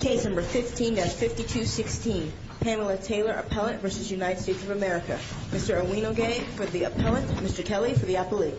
Case number 15-5216. Pamela Taylor, Appellant v. United States of America. Mr. Owinogay for the Appellant. Mr. Kelly for the Appellee.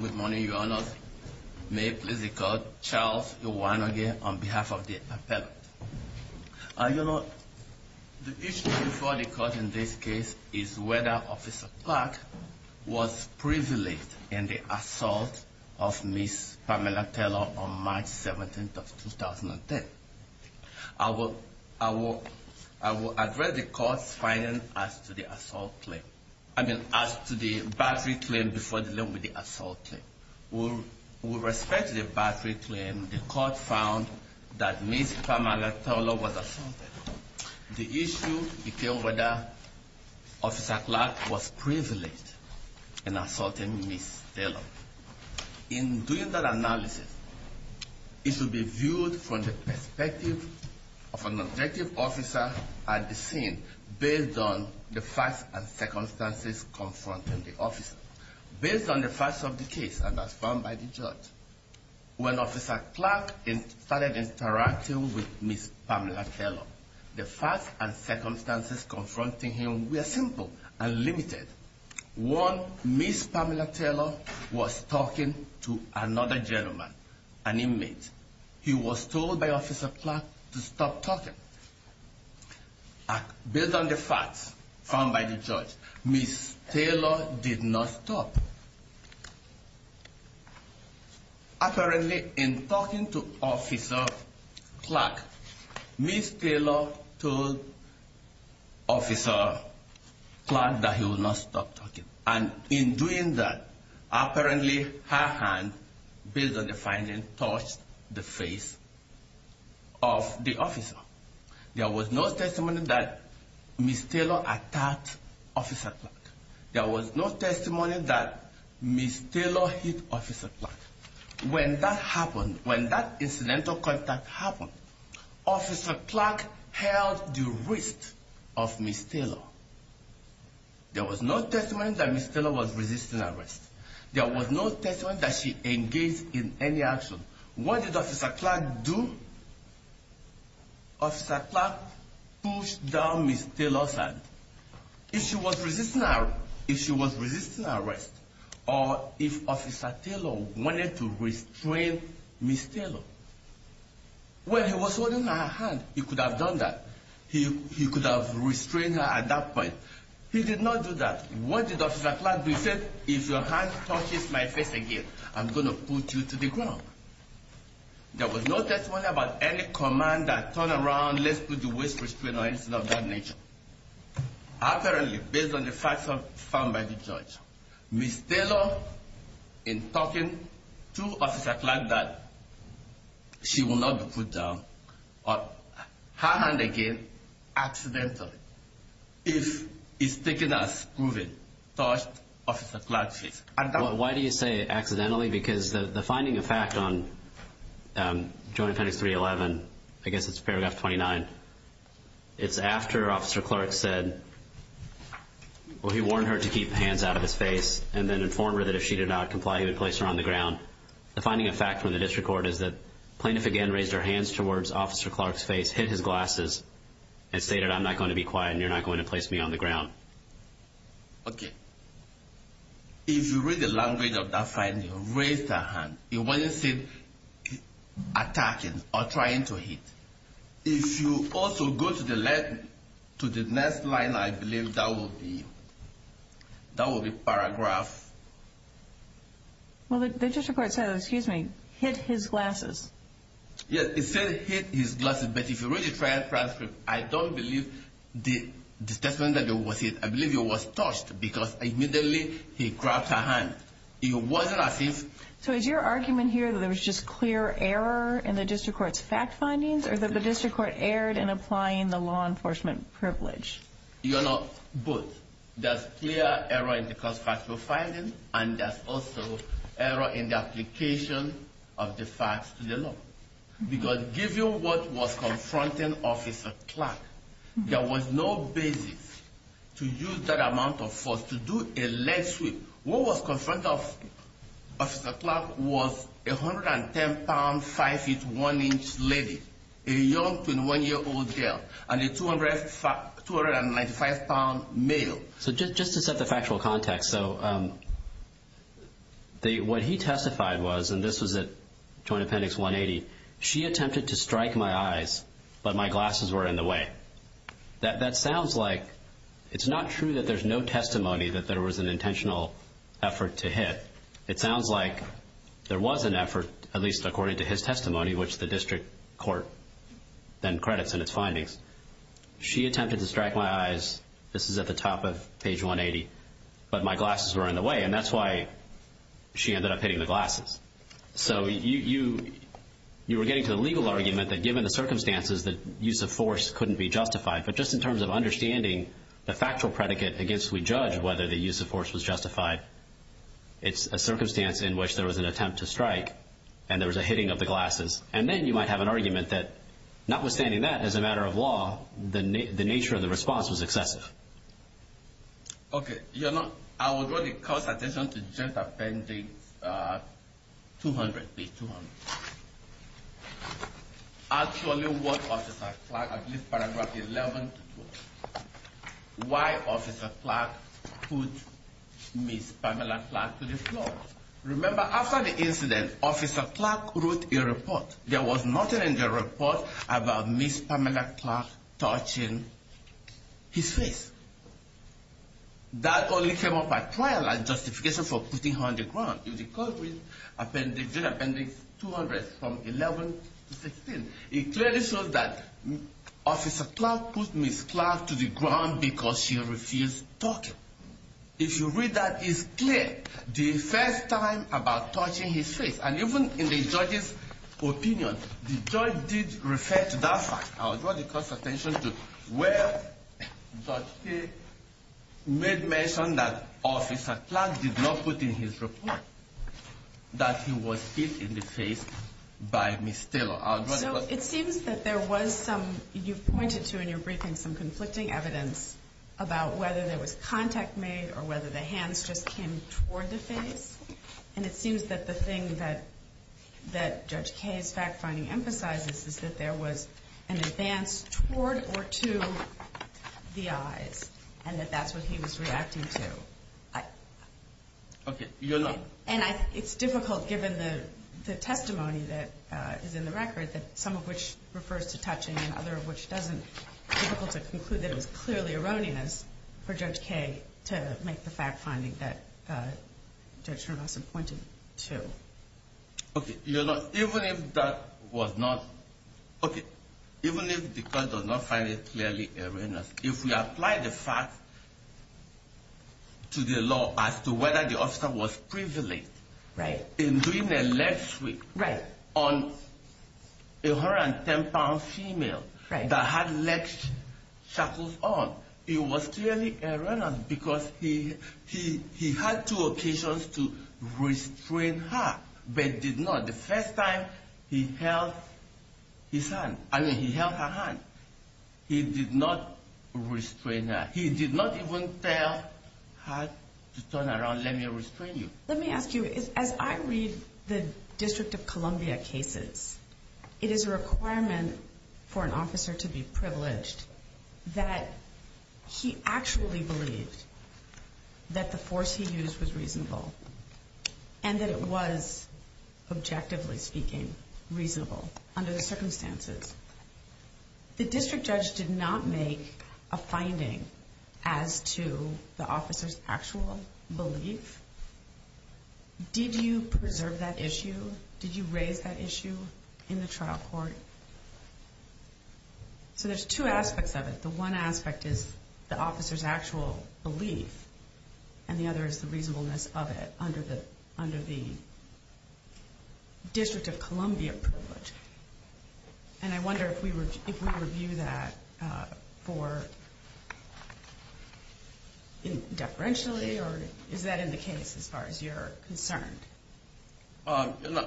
With money, you are not free. May it please the Court, Charles Owinogay on behalf of the Appellant. You know, the issue before the Court in this case is whether Officer Clark was privileged in the assault of Miss Pamela Taylor on March 17th of 2010. I will address the Court's finding as to the battery claim before dealing with the assault claim. With respect to the battery claim, the Court found that Miss Pamela Taylor was assaulted. The issue became whether Officer Clark was privileged in assaulting Miss Taylor. In doing that analysis, it should be viewed from the perspective of an objective officer at the scene based on the facts and circumstances confronting the officer. Based on the facts of the case and as found by the judge, when Officer Clark started interacting with Miss Pamela Taylor, the facts and circumstances confronting him were simple and limited. One, Miss Pamela Taylor was talking to another gentleman, an inmate. He was told by Officer Clark to stop talking. Based on the facts found by the judge, Miss Taylor did not stop. Apparently, in talking to Officer Clark, Miss Taylor told Officer Clark that he would not stop talking. And in doing that, apparently her hand, based on the findings, touched the face of the officer. There was no testimony that Miss Taylor attacked Officer Clark. There was no testimony that Miss Taylor hit Officer Clark. When that happened, when that incidental contact happened, Officer Clark held the wrist of Miss Taylor. There was no testimony that Miss Taylor was resisting arrest. There was no testimony that she engaged in any action. What did Officer Clark do? Officer Clark pushed down Miss Taylor's hand. If she was resisting arrest, or if Officer Taylor wanted to restrain Miss Taylor, when he was holding her hand, he could have done that. He could have restrained her at that point. He did not do that. What did Officer Clark do? He said, if your hand touches my face again, I'm going to put you to the ground. There was no testimony about any command that turned around, let's put the wrist restrained, or anything of that nature. Apparently, based on the facts found by the judge, Miss Taylor, in talking to Officer Clark, that she will not be put down. Her hand again, accidentally, if it's taken as proven, touched Officer Clark's face. Why do you say accidentally? Because the finding of fact on Joint Appendix 311, I guess it's paragraph 29, it's after Officer Clark said, well, he warned her to keep her hands out of his face, and then informed her that if she did not comply, he would place her on the ground. The finding of fact from the district court is that the plaintiff again raised her hands towards Officer Clark's face, hit his glasses, and stated, I'm not going to be quiet, and you're not going to place me on the ground. Okay. If you read the language of that finding, raised her hand, it wasn't said attacking or trying to hit. If you also go to the next line, I believe that will be paragraph... Well, the district court said, excuse me, hit his glasses. Yes, it said hit his glasses, but if you read the transcript, I don't believe the statement that it was hit. I believe it was touched, because immediately he grabbed her hand. It wasn't as if... So is your argument here that there was just clear error in the district court's fact findings, or that the district court erred in applying the law enforcement privilege? You know, both. There's clear error in the court's factual finding, and there's also error in the application of the facts to the law. Because given what was confronting Officer Clark, there was no basis to use that amount of force to do a leg sweep. What was confronting Officer Clark was a 110-pound, 5'1-inch lady, a young 21-year-old girl, and a 295-pound male. So just to set the factual context, so what he testified was, and this was at Joint Appendix 180, she attempted to strike my eyes, but my glasses were in the way. That sounds like it's not true that there's no testimony that there was an intentional effort to hit. It sounds like there was an effort, at least according to his testimony, which the district court then credits in its findings. She attempted to strike my eyes. This is at the top of page 180. But my glasses were in the way, and that's why she ended up hitting the glasses. So you were getting to the legal argument that given the circumstances, the use of force couldn't be justified. But just in terms of understanding the factual predicate against which we judge whether the use of force was justified, it's a circumstance in which there was an attempt to strike, and there was a hitting of the glasses. And then you might have an argument that notwithstanding that, as a matter of law, the nature of the response was excessive. Okay. I will draw the court's attention to Joint Appendix 200. Actually, what Officer Clark, at least paragraph 11, why Officer Clark put Ms. Pamela Clark to the floor. Remember, after the incident, Officer Clark wrote a report. There was nothing in the report about Ms. Pamela Clark touching his face. That only came up at trial as justification for putting her on the ground. But if the court reads Joint Appendix 200 from 11 to 16, it clearly shows that Officer Clark put Ms. Clark to the ground because she refused talking. If you read that, it's clear. The first time about touching his face, and even in the judge's opinion, the judge did refer to that fact. I will draw the court's attention to where Judge Kaye made mention that Officer Clark did not put in his report that he was hit in the face by Ms. Taylor. So it seems that there was some, you pointed to in your briefing, some conflicting evidence about whether there was contact made or whether the hands just came toward the face. And it seems that the thing that Judge Kaye's fact-finding emphasizes is that there was an advance toward or to the eyes, and that that's what he was reacting to. Okay. And it's difficult, given the testimony that is in the record, some of which refers to touching and other of which doesn't, it's difficult to conclude that it was clearly erroneous for Judge Kaye to make the fact-finding that Judge Hermansen pointed to. Okay. You know, even if that was not, okay, even if the court does not find it clearly erroneous, if we apply the fact to the law as to whether the officer was privileged in doing a leg sweep on a 110-pound female that had leg shackles on, it was clearly erroneous because he had two occasions to restrain her, but did not. The first time he held his hand, I mean, he held her hand, he did not restrain her. He did not even tell her to turn around, let me restrain you. Let me ask you, as I read the District of Columbia cases, it is a requirement for an officer to be privileged that he actually believed that the force he used was reasonable and that it was, objectively speaking, reasonable under the circumstances. The district judge did not make a finding as to the officer's actual belief. Did you preserve that issue? Did you raise that issue in the trial court? So there's two aspects of it. The one aspect is the officer's actual belief, and the other is the reasonableness of it under the District of Columbia privilege. And I wonder if we review that for, deferentially, or is that in the case as far as you're concerned? You know,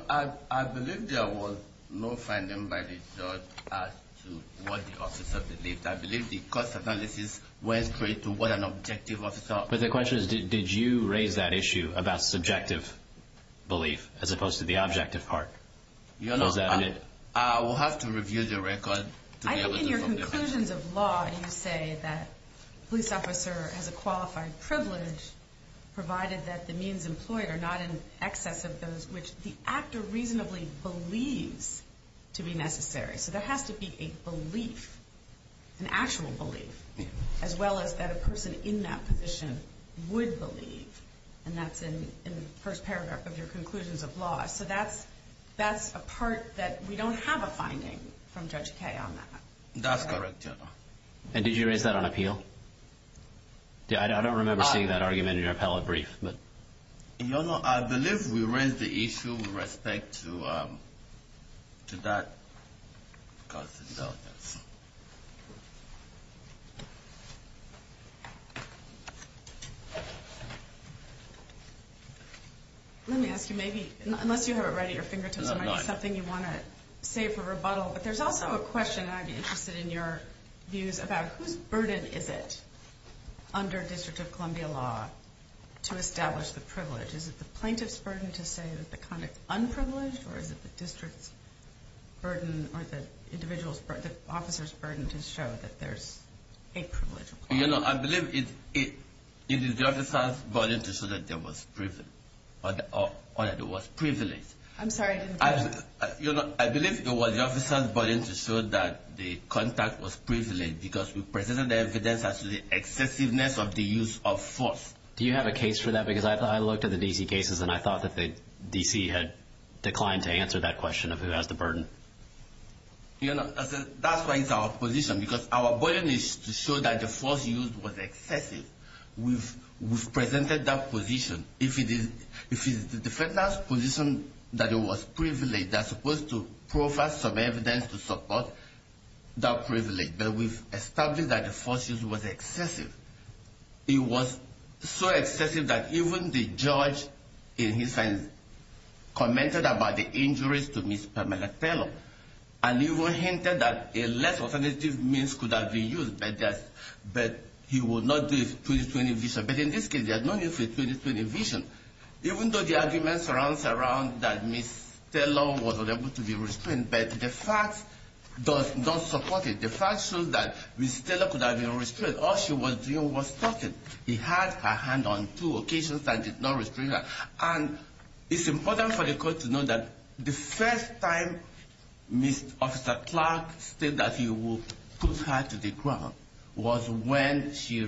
I believe there was no finding by the judge as to what the officer believed. I believe the cost analysis went straight to what an objective officer... But the question is, did you raise that issue about subjective belief as opposed to the objective part? You know, I will have to review the record to be able to... In the conclusions of law, you say that a police officer has a qualified privilege, provided that the means employed are not in excess of those which the actor reasonably believes to be necessary. So there has to be a belief, an actual belief, as well as that a person in that position would believe. And that's in the first paragraph of your conclusions of law. So that's a part that we don't have a finding from Judge Kaye on that. That's correct, Your Honor. And did you raise that on appeal? I don't remember seeing that argument in your appellate brief. Your Honor, I believe we raised the issue with respect to that cost analysis. Let me ask you, maybe, unless you have it right at your fingertips, and it's something you want to save for rebuttal, but there's also a question that I'd be interested in your views about, whose burden is it under District of Columbia law to establish the privilege? Is it the plaintiff's burden to say that the conduct is unprivileged, or is it the district's burden or the officer's burden to show that there's a privilege? You know, I believe it is the officer's burden to show that there was privilege. I'm sorry, I didn't catch that. You know, I believe it was the officer's burden to show that the conduct was privileged because we presented the evidence as to the excessiveness of the use of force. Do you have a case for that? Because I looked at the D.C. cases, and I thought that the D.C. had declined to answer that question of who has the burden. You know, that's why it's our position, because our burden is to show that the force used was excessive. We've presented that position. If it is the defender's position that it was privileged, they're supposed to proffer some evidence to support that privilege. But we've established that the force used was excessive. It was so excessive that even the judge, in his sentence, commented about the injuries to Ms. Pamela Taylor, and even hinted that a less authoritative means could have been used, but he would not do it through the 20-20 vision. But in this case, there's no need for a 20-20 vision. Even though the argument surrounds that Ms. Taylor was unable to be restrained, but the facts don't support it. The facts show that Ms. Taylor could have been restrained. All she was doing was talking. He had her hand on two occasions and did not restrain her. And it's important for the court to know that the first time Mr. Clark said that he would put her to the ground was when she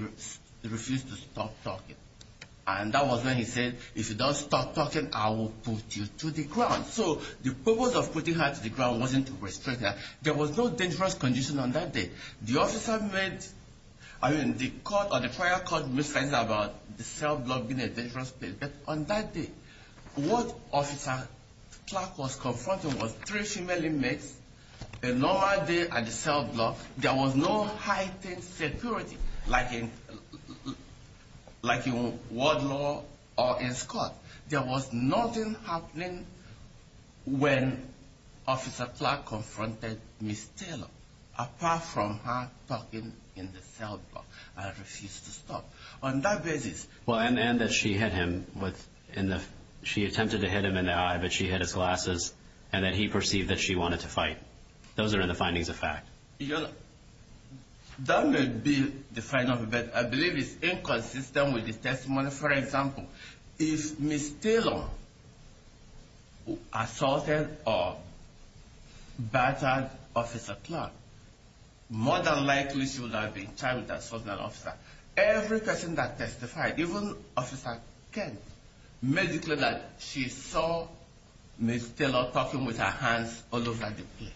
refused to stop talking. And that was when he said, if you don't stop talking, I will put you to the ground. So the purpose of putting her to the ground wasn't to restrain her. There was no dangerous condition on that day. The officer made, I mean, the court or the prior court made statements about the cell block being a dangerous place. But on that day, what Officer Clark was confronting was three female inmates, a normal day at the cell block. There was no heightened security, like in World Law or in Scott. There was nothing happening when Officer Clark confronted Ms. Taylor, apart from her talking in the cell block and refused to stop. On that basis... Well, and that she hit him with, in the, she attempted to hit him in the eye, but she hit his glasses. And that he perceived that she wanted to fight. Those are the findings of fact. You know, that may be the final debate. I believe it's inconsistent with the testimony. For example, if Ms. Taylor assaulted or battered Officer Clark, more than likely she would have been charged with assaulting an officer. Every person that testified, even Officer Kent, may declare that she saw Ms. Taylor talking with her hands all over the place.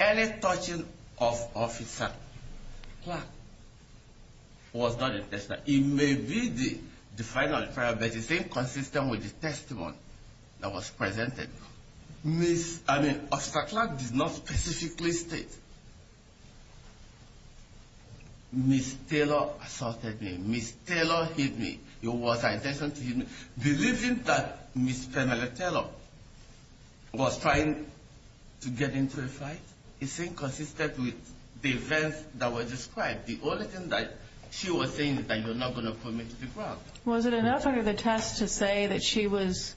Any touching of Officer Clark was not intentional. It may be the final trial, but it's inconsistent with the testimony that was presented. Ms., I mean, Officer Clark did not specifically state, Ms. Taylor assaulted me. Ms. Taylor hit me. It was her intention to hit me. Believing that Ms. Penelope Taylor was trying to get into a fight is inconsistent with the events that were described. The only thing that she was saying is that you're not going to put me to the ground. Was it enough under the test to say that she was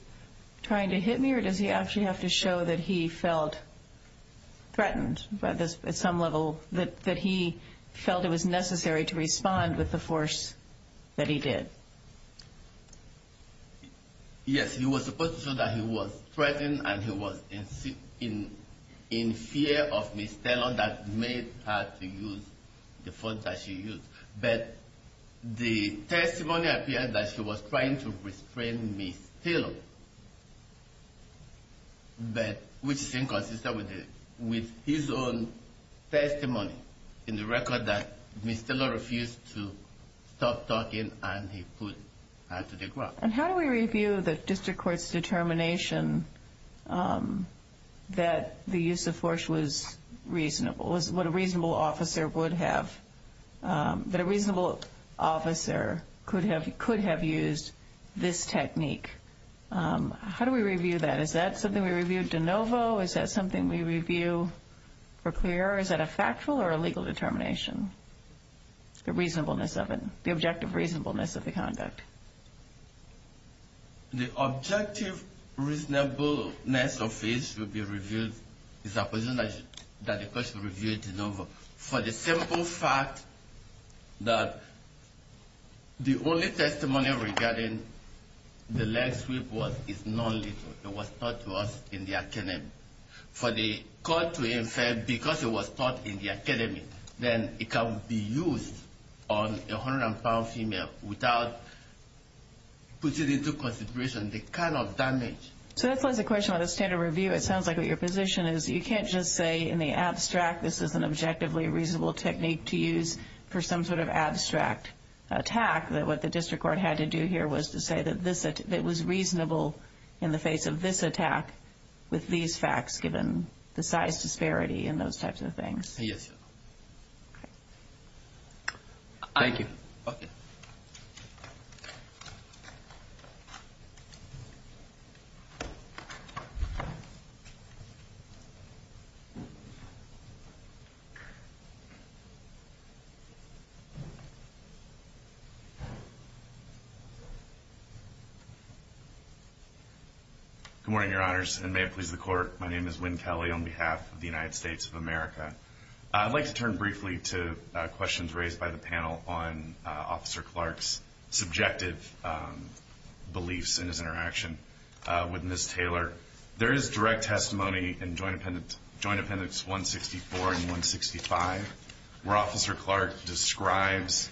trying to hit me? Or does he actually have to show that he felt threatened by this, at some level, that he felt it was necessary to respond with the force that he did? Yes, he was supposed to show that he was threatened and he was in fear of Ms. Taylor that made her to use the force that she used. But the testimony appeared that she was trying to restrain Ms. Taylor, which is inconsistent with his own testimony in the record that Ms. Taylor refused to stop talking and he put her to the ground. And how do we review the district court's determination that the use of force was reasonable, what a reasonable officer would have, that a reasonable officer could have used this technique? How do we review that? Is that something we review de novo? Is that something we review for clear? Or is that a factual or a legal determination, the reasonableness of it, the objective reasonableness of the conduct? The objective reasonableness of it will be reviewed, is a position that the court should review de novo. For the simple fact that the only testimony regarding the leg sweep was, is non-lethal. It was taught to us in the academy. For the court to infer because it was taught in the academy, then it can be used on a 100-pound female without putting into consideration the kind of damage. So that's why the question about the standard review, it sounds like what your position is, you can't just say in the abstract this is an objectively reasonable technique to use for some sort of abstract attack. What the district court had to do here was to say that it was reasonable in the face of this attack with these facts given the size disparity and those types of things. Yes. Thank you. Okay. Good morning, your honors, and may it please the court. My name is Wynn Kelly on behalf of the United States of America. I'd like to turn briefly to questions raised by the panel on Officer Clark's subjective beliefs and his interaction with Ms. Taylor. There is direct testimony in Joint Appendix 164 and 165 where Officer Clark describes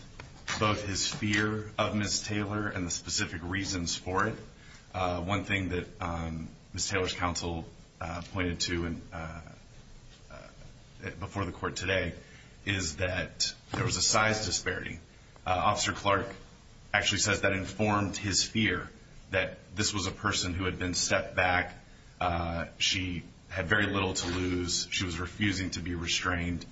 both his fear of Ms. Taylor and the specific reasons for it. One thing that Ms. Taylor's counsel pointed to before the court today is that there was a size disparity. Officer Clark actually says that informed his fear that this was a person who had been stepped back. She had very little to lose. She was refusing to be restrained,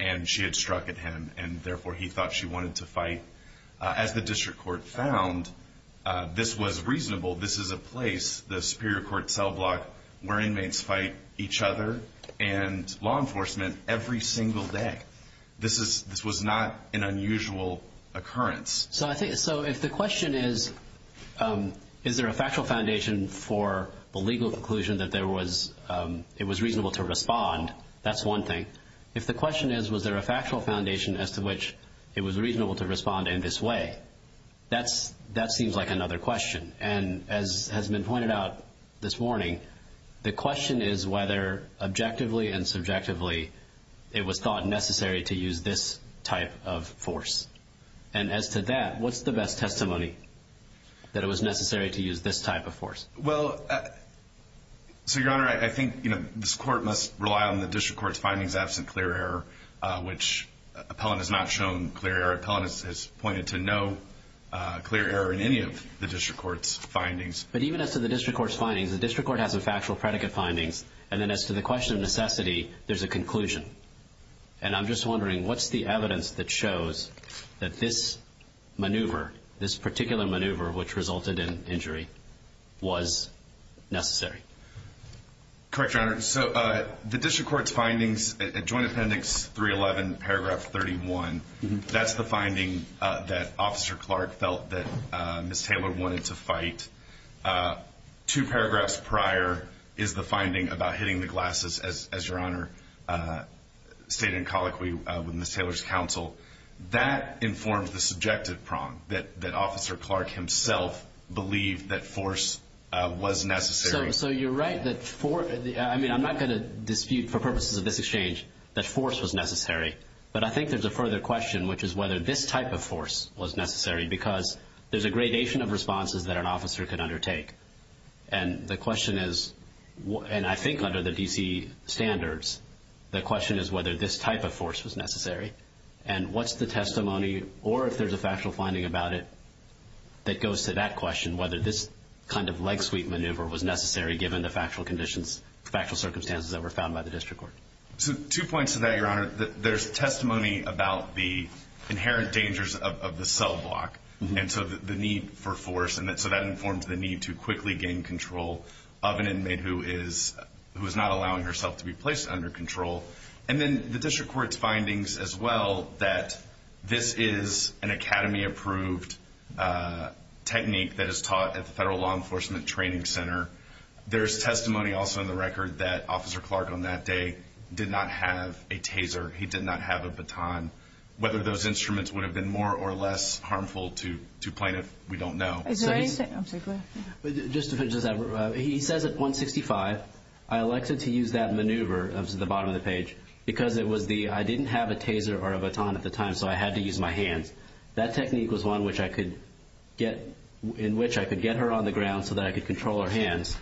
and she had struck at him, and therefore he thought she wanted to fight. As the district court found, this was reasonable. This is a place, the superior court cell block, where inmates fight each other and law enforcement every single day. This was not an unusual occurrence. So if the question is, is there a factual foundation for the legal conclusion that it was reasonable to respond, that's one thing. If the question is, was there a factual foundation as to which it was reasonable to respond in this way, that seems like another question. And as has been pointed out this morning, the question is whether objectively and subjectively it was thought necessary to use this type of force. And as to that, what's the best testimony that it was necessary to use this type of force? Well, so, Your Honor, I think this court must rely on the district court's findings absent clear error, which Appellant has not shown clear error. Appellant has pointed to no clear error in any of the district court's findings. But even as to the district court's findings, the district court has a factual predicate findings, and then as to the question of necessity, there's a conclusion. And I'm just wondering, what's the evidence that shows that this maneuver, this particular maneuver, which resulted in injury, was necessary? Correct, Your Honor. So the district court's findings at Joint Appendix 311, paragraph 31, that's the finding that Officer Clark felt that Ms. Taylor wanted to fight. Two paragraphs prior is the finding about hitting the glasses, as Your Honor stated in colloquy with Ms. Taylor's counsel. That informs the subjective prong that Officer Clark himself believed that force was necessary. So you're right that force – I mean, I'm not going to dispute for purposes of this exchange that force was necessary. But I think there's a further question, which is whether this type of force was necessary, because there's a gradation of responses that an officer can undertake. And the question is – and I think under the D.C. standards, the question is whether this type of force was necessary. And what's the testimony, or if there's a factual finding about it, that goes to that question, whether this kind of leg-sweep maneuver was necessary given the factual circumstances that were found by the district court? Two points to that, Your Honor. There's testimony about the inherent dangers of the cell block, and so the need for force. And so that informs the need to quickly gain control of an inmate who is not allowing herself to be placed under control. And then the district court's findings as well, that this is an Academy-approved technique that is taught at the Federal Law Enforcement Training Center. There's testimony also in the record that Officer Clark on that day did not have a taser. He did not have a baton. Whether those instruments would have been more or less harmful to plaintiff, we don't know. Is there anything – I'm sorry, go ahead. Just to finish this up, he says at 165, I elected to use that maneuver, that was at the bottom of the page, because it was the – I didn't have a taser or a baton at the time, so I had to use my hands. That technique was one which I could get – in which I could get her on the ground so that I could control her hands,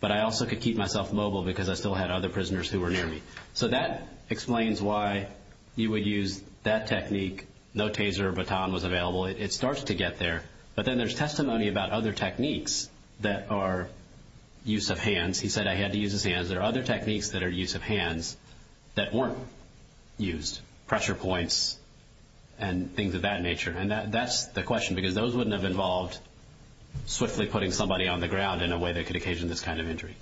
but I also could keep myself mobile because I still had other prisoners who were near me. So that explains why you would use that technique. No taser or baton was available. It starts to get there. But then there's testimony about other techniques that are use of hands. He said I had to use his hands. Is there other techniques that are use of hands that weren't used, pressure points and things of that nature? And that's the question because those wouldn't have involved swiftly putting somebody on the ground in a way that could occasion this kind of injury.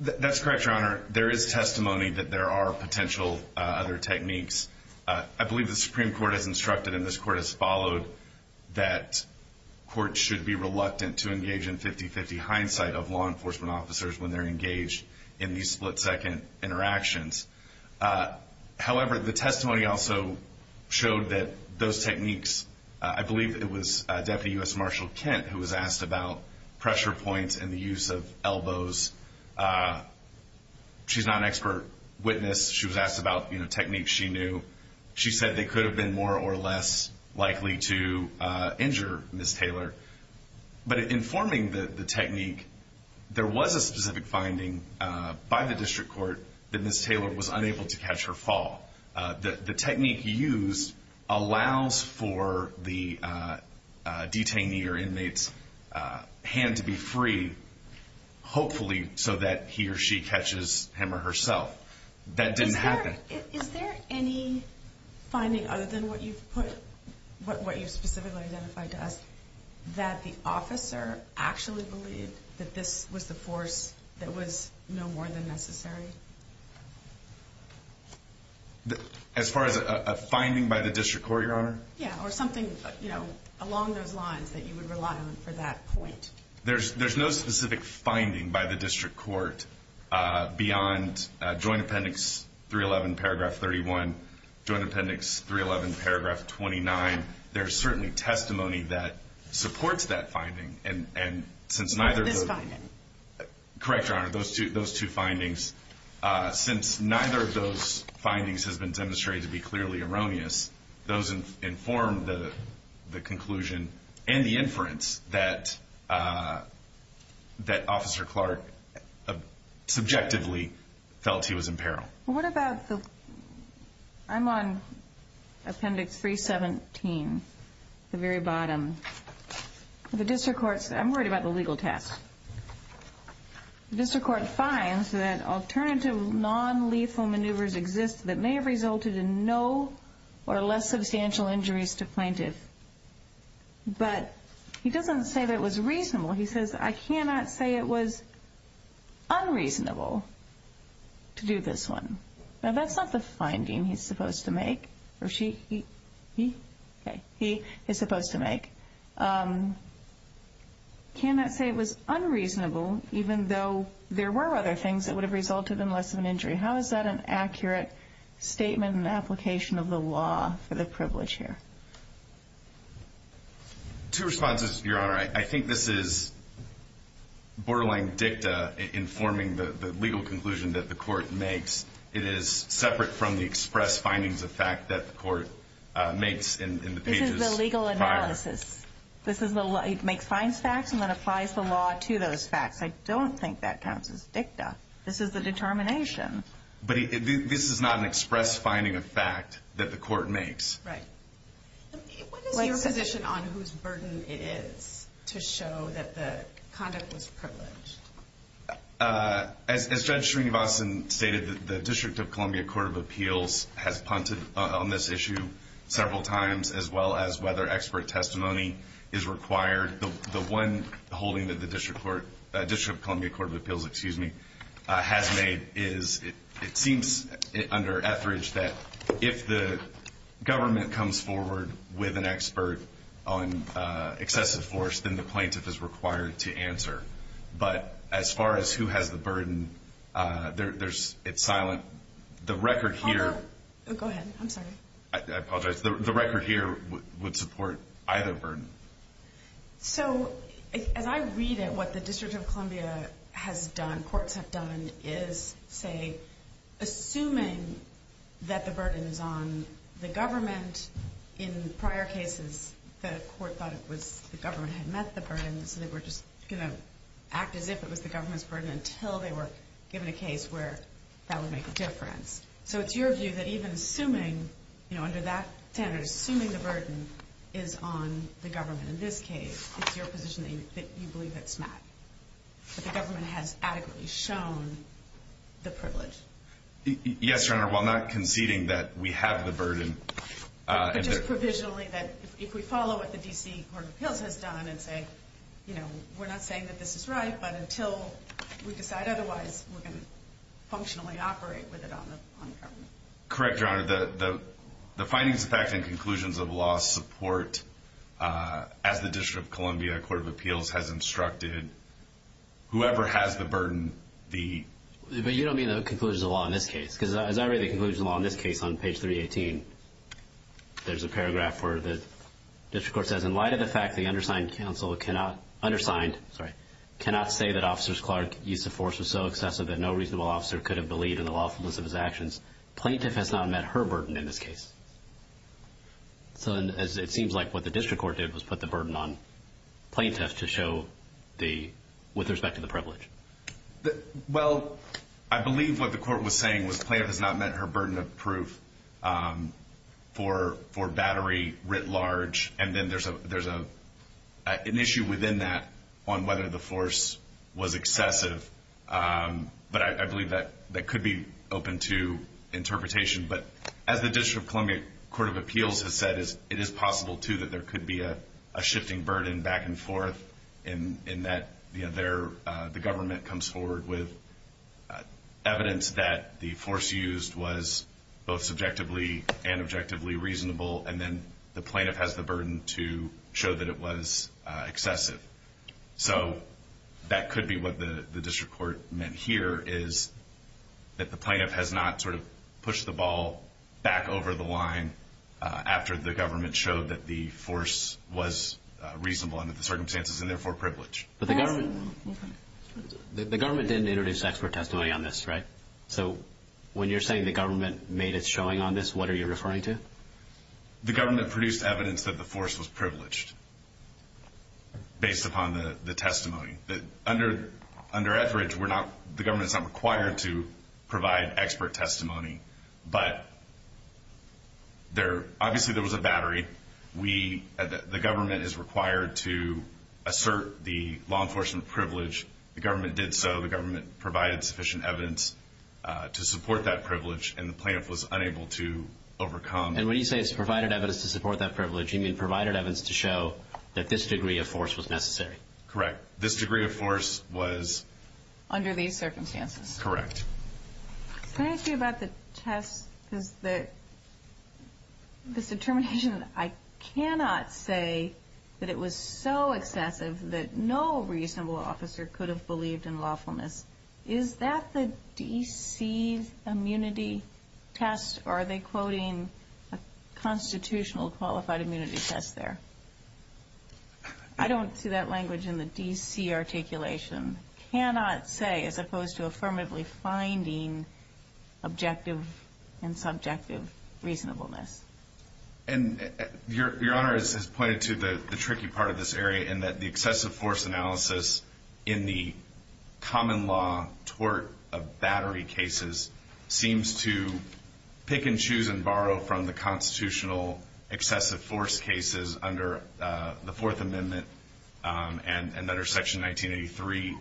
That's correct, Your Honor. There is testimony that there are potential other techniques. I believe the Supreme Court has instructed and this Court has followed that courts should be reluctant to engage in 50-50 hindsight of law enforcement officers when they're engaged in these split-second interactions. However, the testimony also showed that those techniques – I believe it was Deputy U.S. Marshal Kent who was asked about pressure points and the use of elbows. She's not an expert witness. She was asked about techniques she knew. She said they could have been more or less likely to injure Ms. Taylor. But in forming the technique, there was a specific finding by the district court that Ms. Taylor was unable to catch her fall. The technique used allows for the detainee or inmate's hand to be free, hopefully, so that he or she catches him or herself. That didn't happen. Is there any finding other than what you specifically identified to us that the officer actually believed that this was the force that was no more than necessary? As far as a finding by the district court, Your Honor? Yeah, or something along those lines that you would rely on for that point. There's no specific finding by the district court beyond Joint Appendix 311, Paragraph 31. Joint Appendix 311, Paragraph 29. There's certainly testimony that supports that finding, and since neither of those – This finding. Correct, Your Honor, those two findings. Since neither of those findings has been demonstrated to be clearly erroneous, those inform the conclusion and the inference that Officer Clark subjectively felt he was in peril. What about the – I'm on Appendix 317, the very bottom. The district court – I'm worried about the legal test. The district court finds that alternative nonlethal maneuvers exist that may have resulted in no or less substantial injuries to plaintiff. But he doesn't say that it was reasonable. He says, I cannot say it was unreasonable to do this one. Now, that's not the finding he's supposed to make, or she – he – he is supposed to make. Cannot say it was unreasonable, even though there were other things that would have resulted in less of an injury. How is that an accurate statement and application of the law for the privilege here? Two responses, Your Honor. I think this is borderline dicta informing the legal conclusion that the court makes. It is separate from the express findings of fact that the court makes in the pages prior. Well, this is – this is the – he makes – finds facts and then applies the law to those facts. I don't think that counts as dicta. This is the determination. But this is not an express finding of fact that the court makes. Right. What is your position on whose burden it is to show that the conduct was privileged? As Judge Srinivasan stated, the District of Columbia Court of Appeals has punted on this issue several times, as well as whether expert testimony is required. The one holding that the District Court – District of Columbia Court of Appeals, excuse me, has made is it seems under that if the government comes forward with an expert on excessive force, then the plaintiff is required to answer. But as far as who has the burden, there's – it's silent. The record here – Go ahead. I'm sorry. I apologize. The record here would support either burden. So as I read it, what the District of Columbia has done, courts have done, is say, assuming that the burden is on the government, in prior cases the court thought it was the government had met the burden, so they were just going to act as if it was the government's burden until they were given a case where that would make a difference. So it's your view that even assuming, you know, under that standard, assuming the burden is on the government in this case, it's your position that you believe it's not, that the government has adequately shown the privilege? Yes, Your Honor. While not conceding that we have the burden – Just provisionally that if we follow what the D.C. Court of Appeals has done and say, you know, we're not saying that this is right, but until we decide otherwise, we're going to functionally operate with it on the government. Correct, Your Honor. The findings, facts, and conclusions of law support, as the District of Columbia Court of Appeals has instructed, whoever has the burden, the – But you don't mean the conclusions of law in this case? Because as I read the conclusions of law in this case on page 318, there's a paragraph where the District Court says, in light of the fact the undersigned counsel cannot – undersigned, sorry – cannot say that Officer Clark's use of force was so excessive that no reasonable officer could have believed in the lawfulness of his actions, plaintiff has not met her burden in this case. So it seems like what the District Court did was put the burden on plaintiff to show the – with respect to the privilege. Well, I believe what the court was saying was plaintiff has not met her burden of proof for battery writ large, and then there's an issue within that on whether the force was excessive. But I believe that could be open to interpretation. But as the District of Columbia Court of Appeals has said, it is possible too that there could be a shifting burden back and forth in that the government comes forward with evidence that the force used was both subjectively and objectively reasonable, and then the plaintiff has the burden to show that it was excessive. So that could be what the District Court meant here is that the plaintiff has not sort of pushed the ball back over the line after the government showed that the force was reasonable under the circumstances and therefore privileged. But the government – the government didn't introduce expert testimony on this, right? So when you're saying the government made its showing on this, what are you referring to? The government produced evidence that the force was privileged based upon the testimony. Under Etheridge, we're not – the government is not required to provide expert testimony, but there – obviously there was a battery. We – the government is required to assert the law enforcement privilege. The government did so. The government provided sufficient evidence to support that privilege, and the plaintiff was unable to overcome. And when you say it's provided evidence to support that privilege, you mean provided evidence to show that this degree of force was necessary. Correct. This degree of force was – Under these circumstances. Correct. Can I ask you about the test? Because the – this determination, I cannot say that it was so excessive that no reasonable officer could have believed in lawfulness. Is that the D.C. immunity test, or are they quoting a constitutional qualified immunity test there? I don't see that language in the D.C. articulation. Cannot say, as opposed to affirmatively finding objective and subjective reasonableness. And Your Honor has pointed to the tricky part of this area in that the excessive force analysis in the common law tort of battery cases seems to pick and choose and borrow from the constitutional excessive force cases under the Fourth Amendment and under Section 1983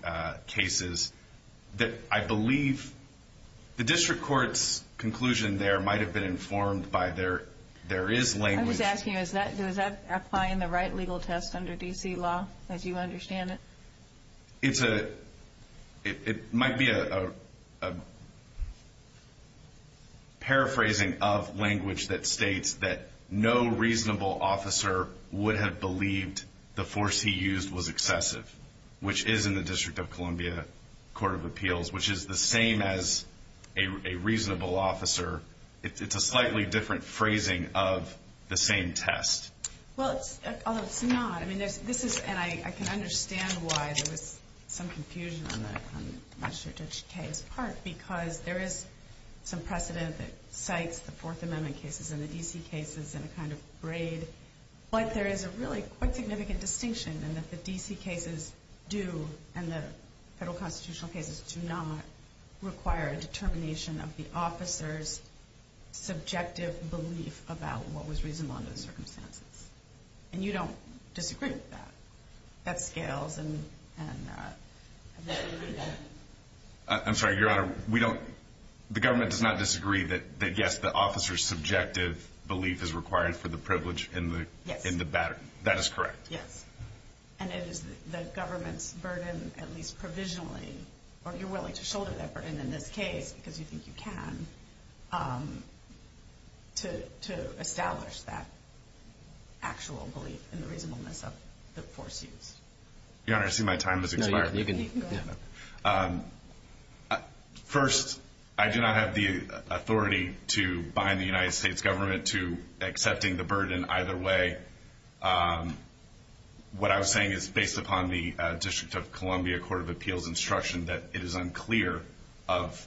cases that I believe the district court's conclusion there might have been informed by there is language. I was asking, does that apply in the right legal test under D.C. law, as you understand it? It's a – it might be a paraphrasing of language that states that no reasonable officer would have believed the force he used was excessive, which is in the District of Columbia Court of Appeals, which is the same as a reasonable officer. It's a slightly different phrasing of the same test. Well, it's – although it's not. I mean, this is – and I can understand why there was some confusion on the Magistrate Judge Kaye's part because there is some precedent that cites the Fourth Amendment cases and the D.C. cases in a kind of braid. But there is a really quite significant distinction in that the D.C. cases do and the federal constitutional cases do not require a determination of the officer's reasonable under the circumstances. And you don't disagree with that. That scales and – I'm sorry, Your Honor. We don't – the government does not disagree that, yes, the officer's subjective belief is required for the privilege in the battery. That is correct. Yes. And it is the government's burden, at least provisionally, or you're willing to shoulder that burden in this case because you think you can, to establish that actual belief in the reasonableness of the force used. Your Honor, I see my time has expired. No, you can go ahead. First, I do not have the authority to bind the United States government to accepting the burden either way. What I was saying is based upon the District of Columbia Court of Appeals instruction that it is unclear of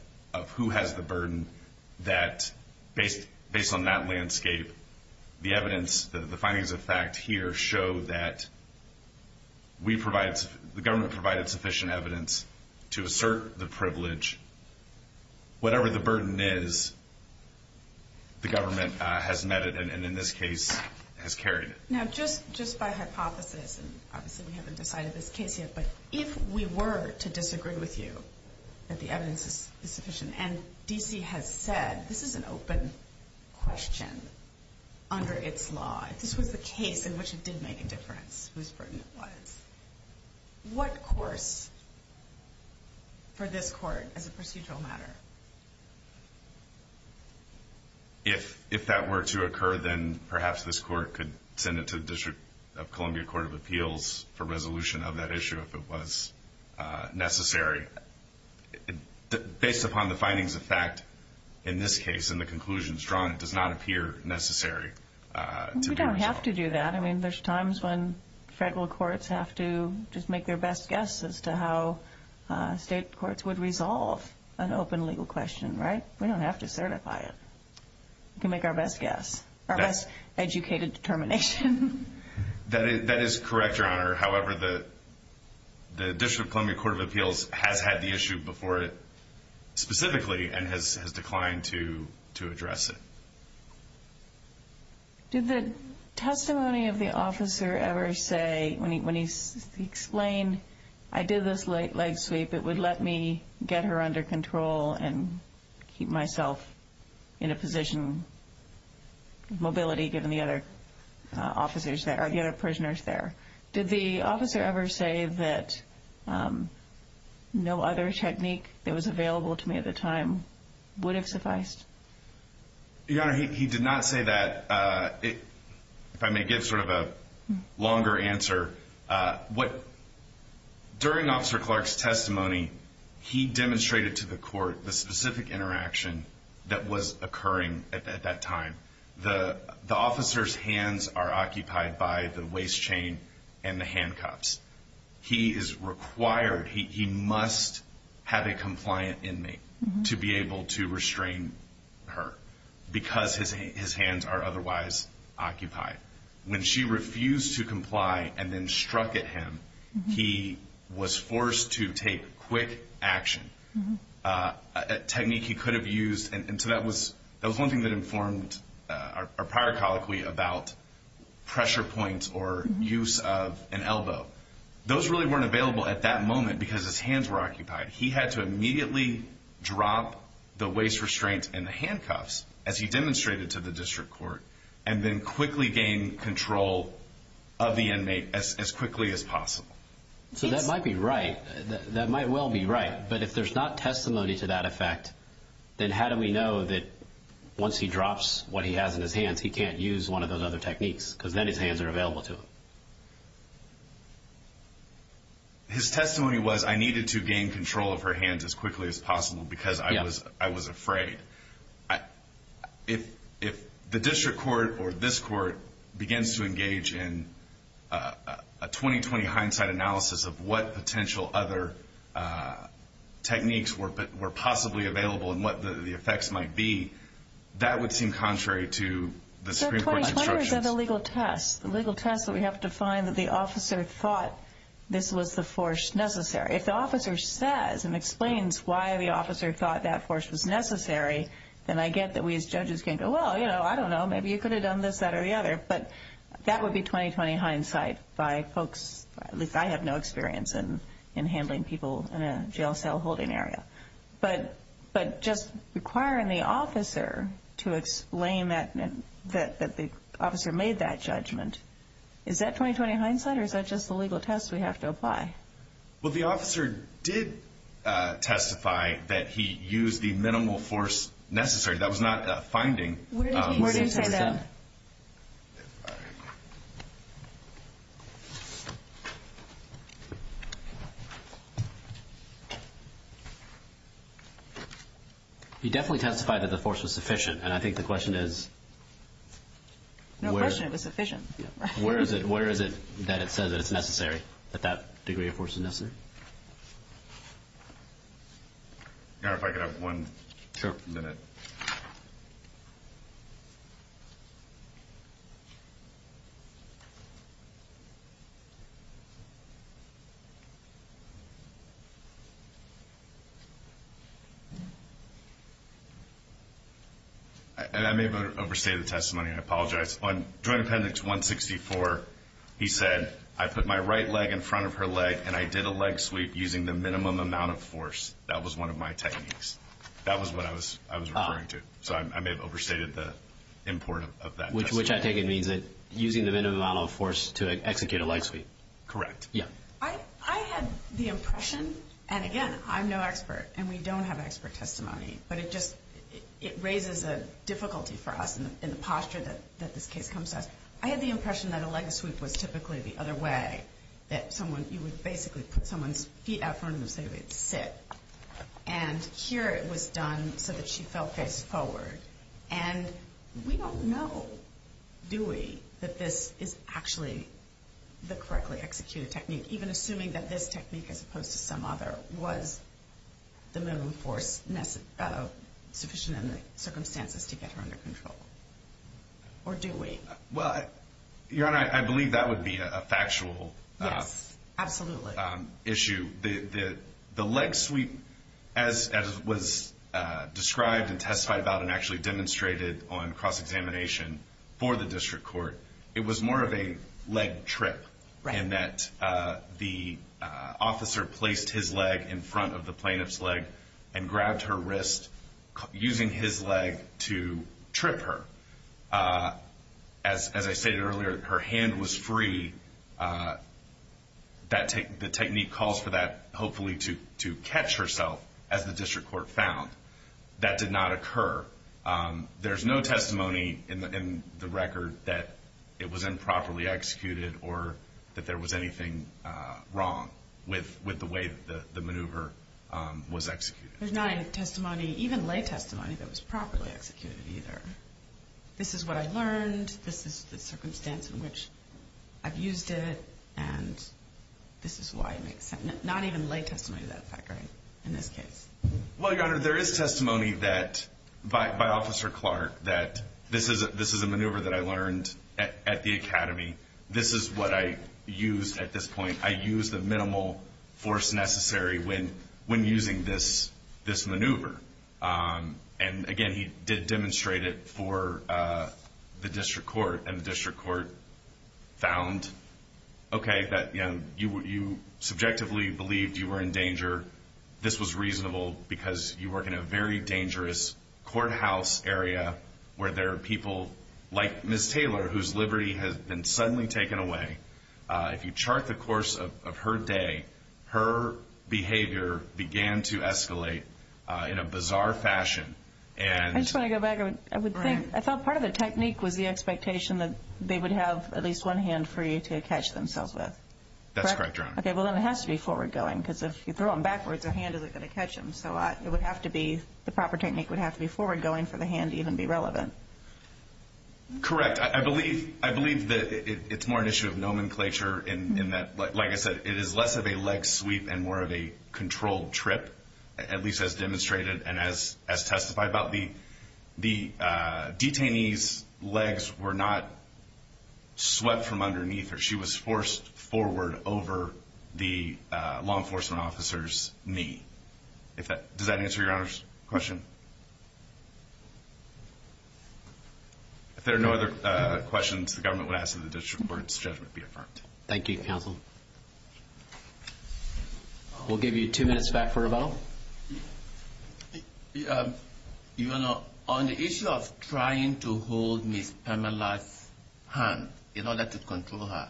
who has the burden that, based on that landscape, the evidence, the findings of fact here show that we provide – the government provided sufficient evidence to assert the privilege. Whatever the burden is, the government has met it and, in this case, has carried it. Now, just by hypothesis, and obviously we haven't decided this case yet, but if we were to disagree with you that the evidence is sufficient, and D.C. has said this is an open question under its law, if this was the case in which it did make a difference whose burden it was, what course for this Court as a procedural matter? If that were to occur, then perhaps this Court could send it to the District of Columbia Court of Appeals for resolution of that issue if it was necessary. Based upon the findings of fact in this case and the conclusions drawn, it does not appear necessary. We don't have to do that. I mean, there's times when federal courts have to just make their best guess as to how state courts would resolve an open legal question, right? We don't have to certify it. We can make our best guess, our best educated determination. That is correct, Your Honor. However, the District of Columbia Court of Appeals has had the issue before it specifically and has declined to address it. Did the testimony of the officer ever say, when he explained, I did this leg sweep, it would let me get her under control and keep myself in a position of mobility given the other prisoners there. Did the officer ever say that no other technique that was available to me at the time would have sufficed? Your Honor, he did not say that. If I may give sort of a longer answer, during Officer Clark's testimony, he demonstrated to the court the specific interaction that was occurring at that time. The officer's hands are occupied by the waist chain and the handcuffs. He is required, he must have a compliant inmate to be able to restrain her because his hands are otherwise occupied. When she refused to comply and then struck at him, he was forced to take quick action. A technique he could have used, and so that was one thing that informed our prior colloquy about pressure points or use of an elbow. Those really weren't available at that moment because his hands were occupied. He had to immediately drop the waist restraint and the handcuffs, as he demonstrated to the district court, and then quickly gain control of the inmate as quickly as possible. So that might be right. That might well be right. But if there's not testimony to that effect, then how do we know that once he drops what he has in his hands, he can't use one of those other techniques because then his hands are available to him? His testimony was I needed to gain control of her hands as quickly as possible because I was afraid. If the district court or this court begins to engage in a 20-20 hindsight analysis of what potential other techniques were possibly available and what the effects might be, that would seem contrary to the Supreme Court's instructions. Sir, 20-20 are the legal tests, the legal tests that we have to find that the officer thought this was the force necessary. If the officer says and explains why the officer thought that force was necessary, then I get that we as judges can go, well, you know, I don't know. Maybe you could have done this, that, or the other. But that would be 20-20 hindsight by folks. At least I have no experience in handling people in a jail cell holding area. But just requiring the officer to explain that the officer made that judgment, is that 20-20 hindsight or is that just the legal test we have to apply? Well, the officer did testify that he used the minimal force necessary. That was not a finding. Where did he say that? He definitely testified that the force was sufficient, and I think the question is... No question it was sufficient. Where is it that it says that it's necessary, that that degree of force is necessary? If I could have one minute. I may have overstated the testimony. I apologize. On Joint Appendix 164, he said, I put my right leg in front of her leg and I did a leg sweep using the minimum amount of force. That was one of my techniques. That was what I was referring to. So I may have overstated the import of that testimony. Which I take it means that using the minimum amount of force to execute a leg sweep. Correct. Yeah. I had the impression, and again, I'm no expert and we don't have expert testimony, but it just, it raises a difficulty for us in the posture that this case comes to us. I had the impression that a leg sweep was typically the other way. That someone, you would basically put someone's feet out in front of them so they would sit. And here it was done so that she fell face forward. And we don't know, do we, that this is actually the correctly executed technique. Even assuming that this technique, as opposed to some other, was the minimum force sufficient in the circumstances to get her under control. Or do we? Well, Your Honor, I believe that would be a factual issue. Yes, absolutely. The leg sweep, as was described and testified about and actually demonstrated on cross-examination for the district court, it was more of a leg trip in that the officer placed his leg in front of the plaintiff's leg and grabbed her wrist using his leg to trip her. As I stated earlier, her hand was free. The technique calls for that, hopefully, to catch herself, as the district court found. That did not occur. There's no testimony in the record that it was improperly executed or that there was anything wrong with the way the maneuver was executed. There's not any testimony, even lay testimony, that was properly executed either. This is what I learned. This is the circumstance in which I've used it. And this is why it makes sense. Not even lay testimony to that effect, right, in this case. Well, Your Honor, there is testimony by Officer Clark that this is a maneuver that I learned at the academy. This is what I used at this point. I used the minimal force necessary when using this maneuver. And, again, he did demonstrate it for the district court, and the district court found, okay, that you subjectively believed you were in danger. This was reasonable because you work in a very dangerous courthouse area where there are people like Ms. Taylor, whose liberty has been suddenly taken away. If you chart the course of her day, her behavior began to escalate in a bizarre fashion. I just want to go back. I thought part of the technique was the expectation that they would have at least one hand free to catch themselves with. That's correct, Your Honor. Okay, well, then it has to be forward going because if you throw them backwards, their hand isn't going to catch them. So it would have to be, the proper technique would have to be forward going for the hand to even be relevant. Correct. I believe that it's more an issue of nomenclature in that, like I said, it is less of a leg sweep and more of a controlled trip, at least as demonstrated and as testified about. The detainee's legs were not swept from underneath her. She was forced forward over the law enforcement officer's knee. Does that answer Your Honor's question? If there are no other questions, the government would ask that the district court's judgment be affirmed. Thank you, counsel. We'll give you two minutes back for a vote. Your Honor, on the issue of trying to hold Ms. Pamela's hand in order to control her,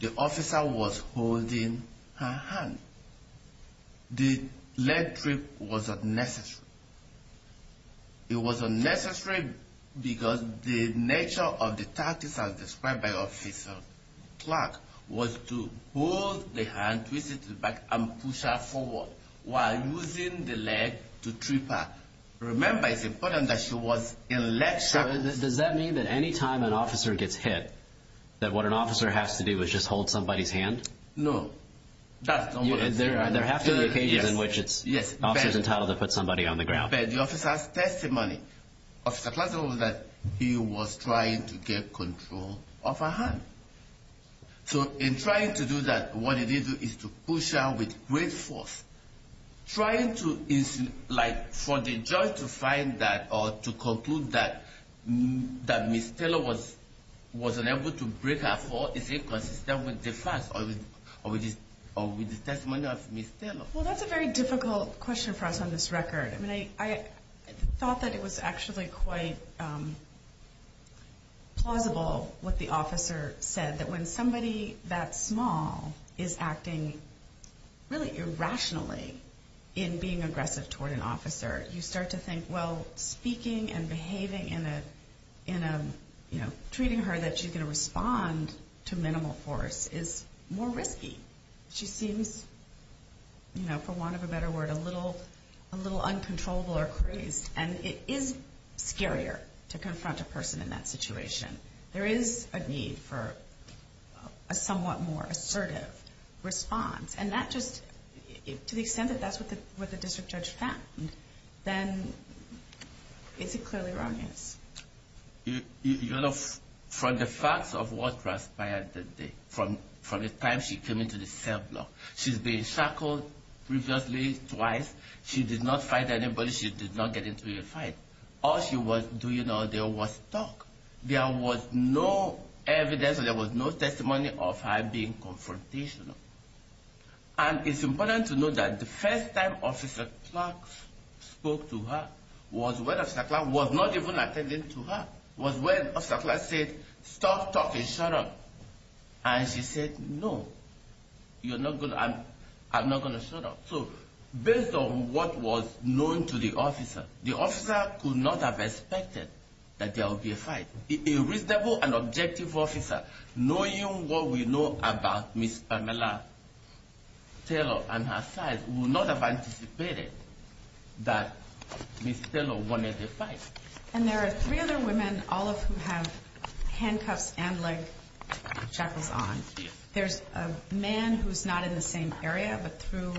the officer was holding her hand. The leg trip was unnecessary. It was unnecessary because the nature of the tactics as described by Officer Clark was to hold the hand, twist it to the back, and push her forward while using the leg to trip her. Remember, it's important that she was in a leg trap. So does that mean that any time an officer gets hit, that what an officer has to do is just hold somebody's hand? No. There have to be occasions in which an officer is entitled to put somebody on the ground. But the officer's testimony, Officer Clark's was that he was trying to get control of her hand. So in trying to do that, what you need to do is to push her with great force. Trying to, like, for the judge to find that or to conclude that Ms. Taylor was unable to break her fall is inconsistent with the facts or with the testimony of Ms. Taylor. Well, that's a very difficult question for us on this record. I mean, I thought that it was actually quite plausible what the officer said, that when somebody that small is acting really irrationally in being aggressive toward an officer, you start to think, well, speaking and behaving in a, you know, treating her that she's going to respond to minimal force is more risky. She seems, you know, for want of a better word, a little uncontrollable or crazed. And it is scarier to confront a person in that situation. There is a need for a somewhat more assertive response. And that just, to the extent that that's what the district judge found, then it's clearly erroneous. You know, from the facts of what transpired that day, from the time she came into the cell block, she's been shackled previously twice. She did not fight anybody. She did not get into a fight. All she was doing, you know, there was talk. There was no evidence or there was no testimony of her being confrontational. And it's important to note that the first time Officer Clark spoke to her was when Officer Clark was not even attending to her. It was when Officer Clark said, stop talking, shut up. And she said, no, you're not going to, I'm not going to shut up. So based on what was known to the officer, the officer could not have expected that there would be a fight. A reasonable and objective officer, knowing what we know about Miss Pamela Taylor and her side, would not have anticipated that Miss Taylor wanted a fight. And there are three other women, all of whom have handcuffs and leg shackles on. There's a man who's not in the same area, but through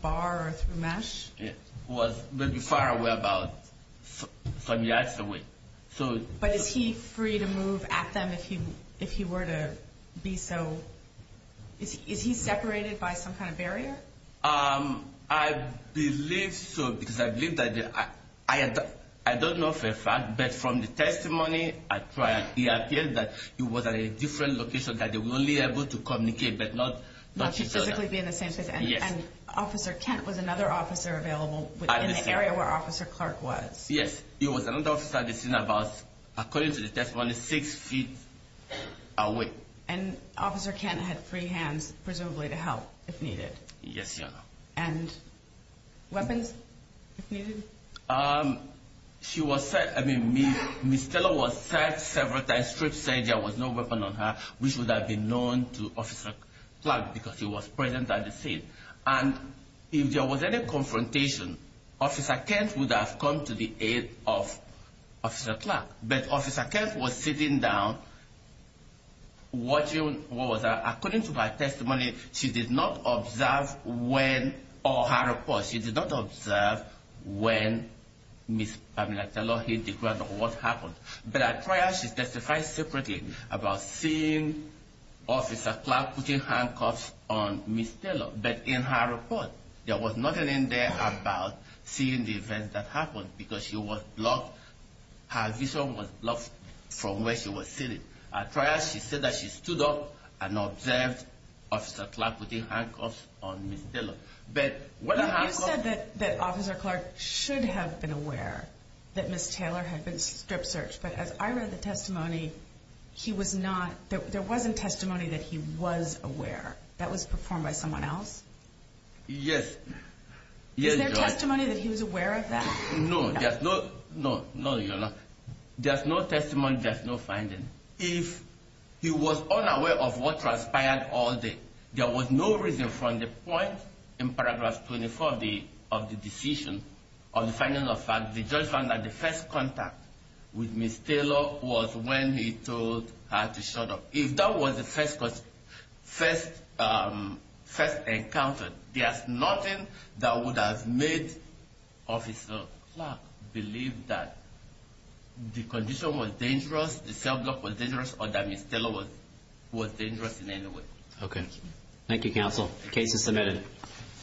bar or through mesh. He was maybe far away about some yards away. But is he free to move at them if he were to be so? Is he separated by some kind of barrier? I believe so, because I believe that I don't know for a fact, but from the testimony, it appears that he was at a different location that they were only able to communicate, but not to physically be in the same space. And Officer Kent was another officer available in the area where Officer Clark was. Yes, he was another officer that was, according to the testimony, six feet away. And Officer Kent had free hands, presumably, to help if needed. Yes, Your Honor. And weapons, if needed? She was said, I mean, Miss Taylor was said several times, stripped, said there was no weapon on her, which would have been known to Officer Clark because he was present at the scene. And if there was any confrontation, Officer Kent would have come to the aid of Officer Clark. But Officer Kent was sitting down, watching, what was that? According to her testimony, she did not observe when, or her report, she did not observe when Miss Pamela Taylor hit the ground or what happened. But at trial, she testified separately about seeing Officer Clark putting handcuffs on Miss Taylor. But in her report, there was nothing in there about seeing the event that happened because she was blocked. Her vision was blocked from where she was sitting. At trial, she said that she stood up and observed Officer Clark putting handcuffs on Miss Taylor. But when a handcuff... You said that Officer Clark should have been aware that Miss Taylor had been strip searched. But as I read the testimony, he was not. There wasn't testimony that he was aware. That was performed by someone else? Yes. Is there testimony that he was aware of that? No, there's no testimony, there's no finding. If he was unaware of what transpired all day, there was no reason from the point in Paragraph 24 of the decision, of the finding of facts, the judge found that the first contact with Miss Taylor was when he told her to shut up. If that was the first encounter, there's nothing that would have made Officer Clark believe that the condition was dangerous, the cell block was dangerous, or that Miss Taylor was dangerous in any way. Okay. Thank you, Counsel. The case is submitted.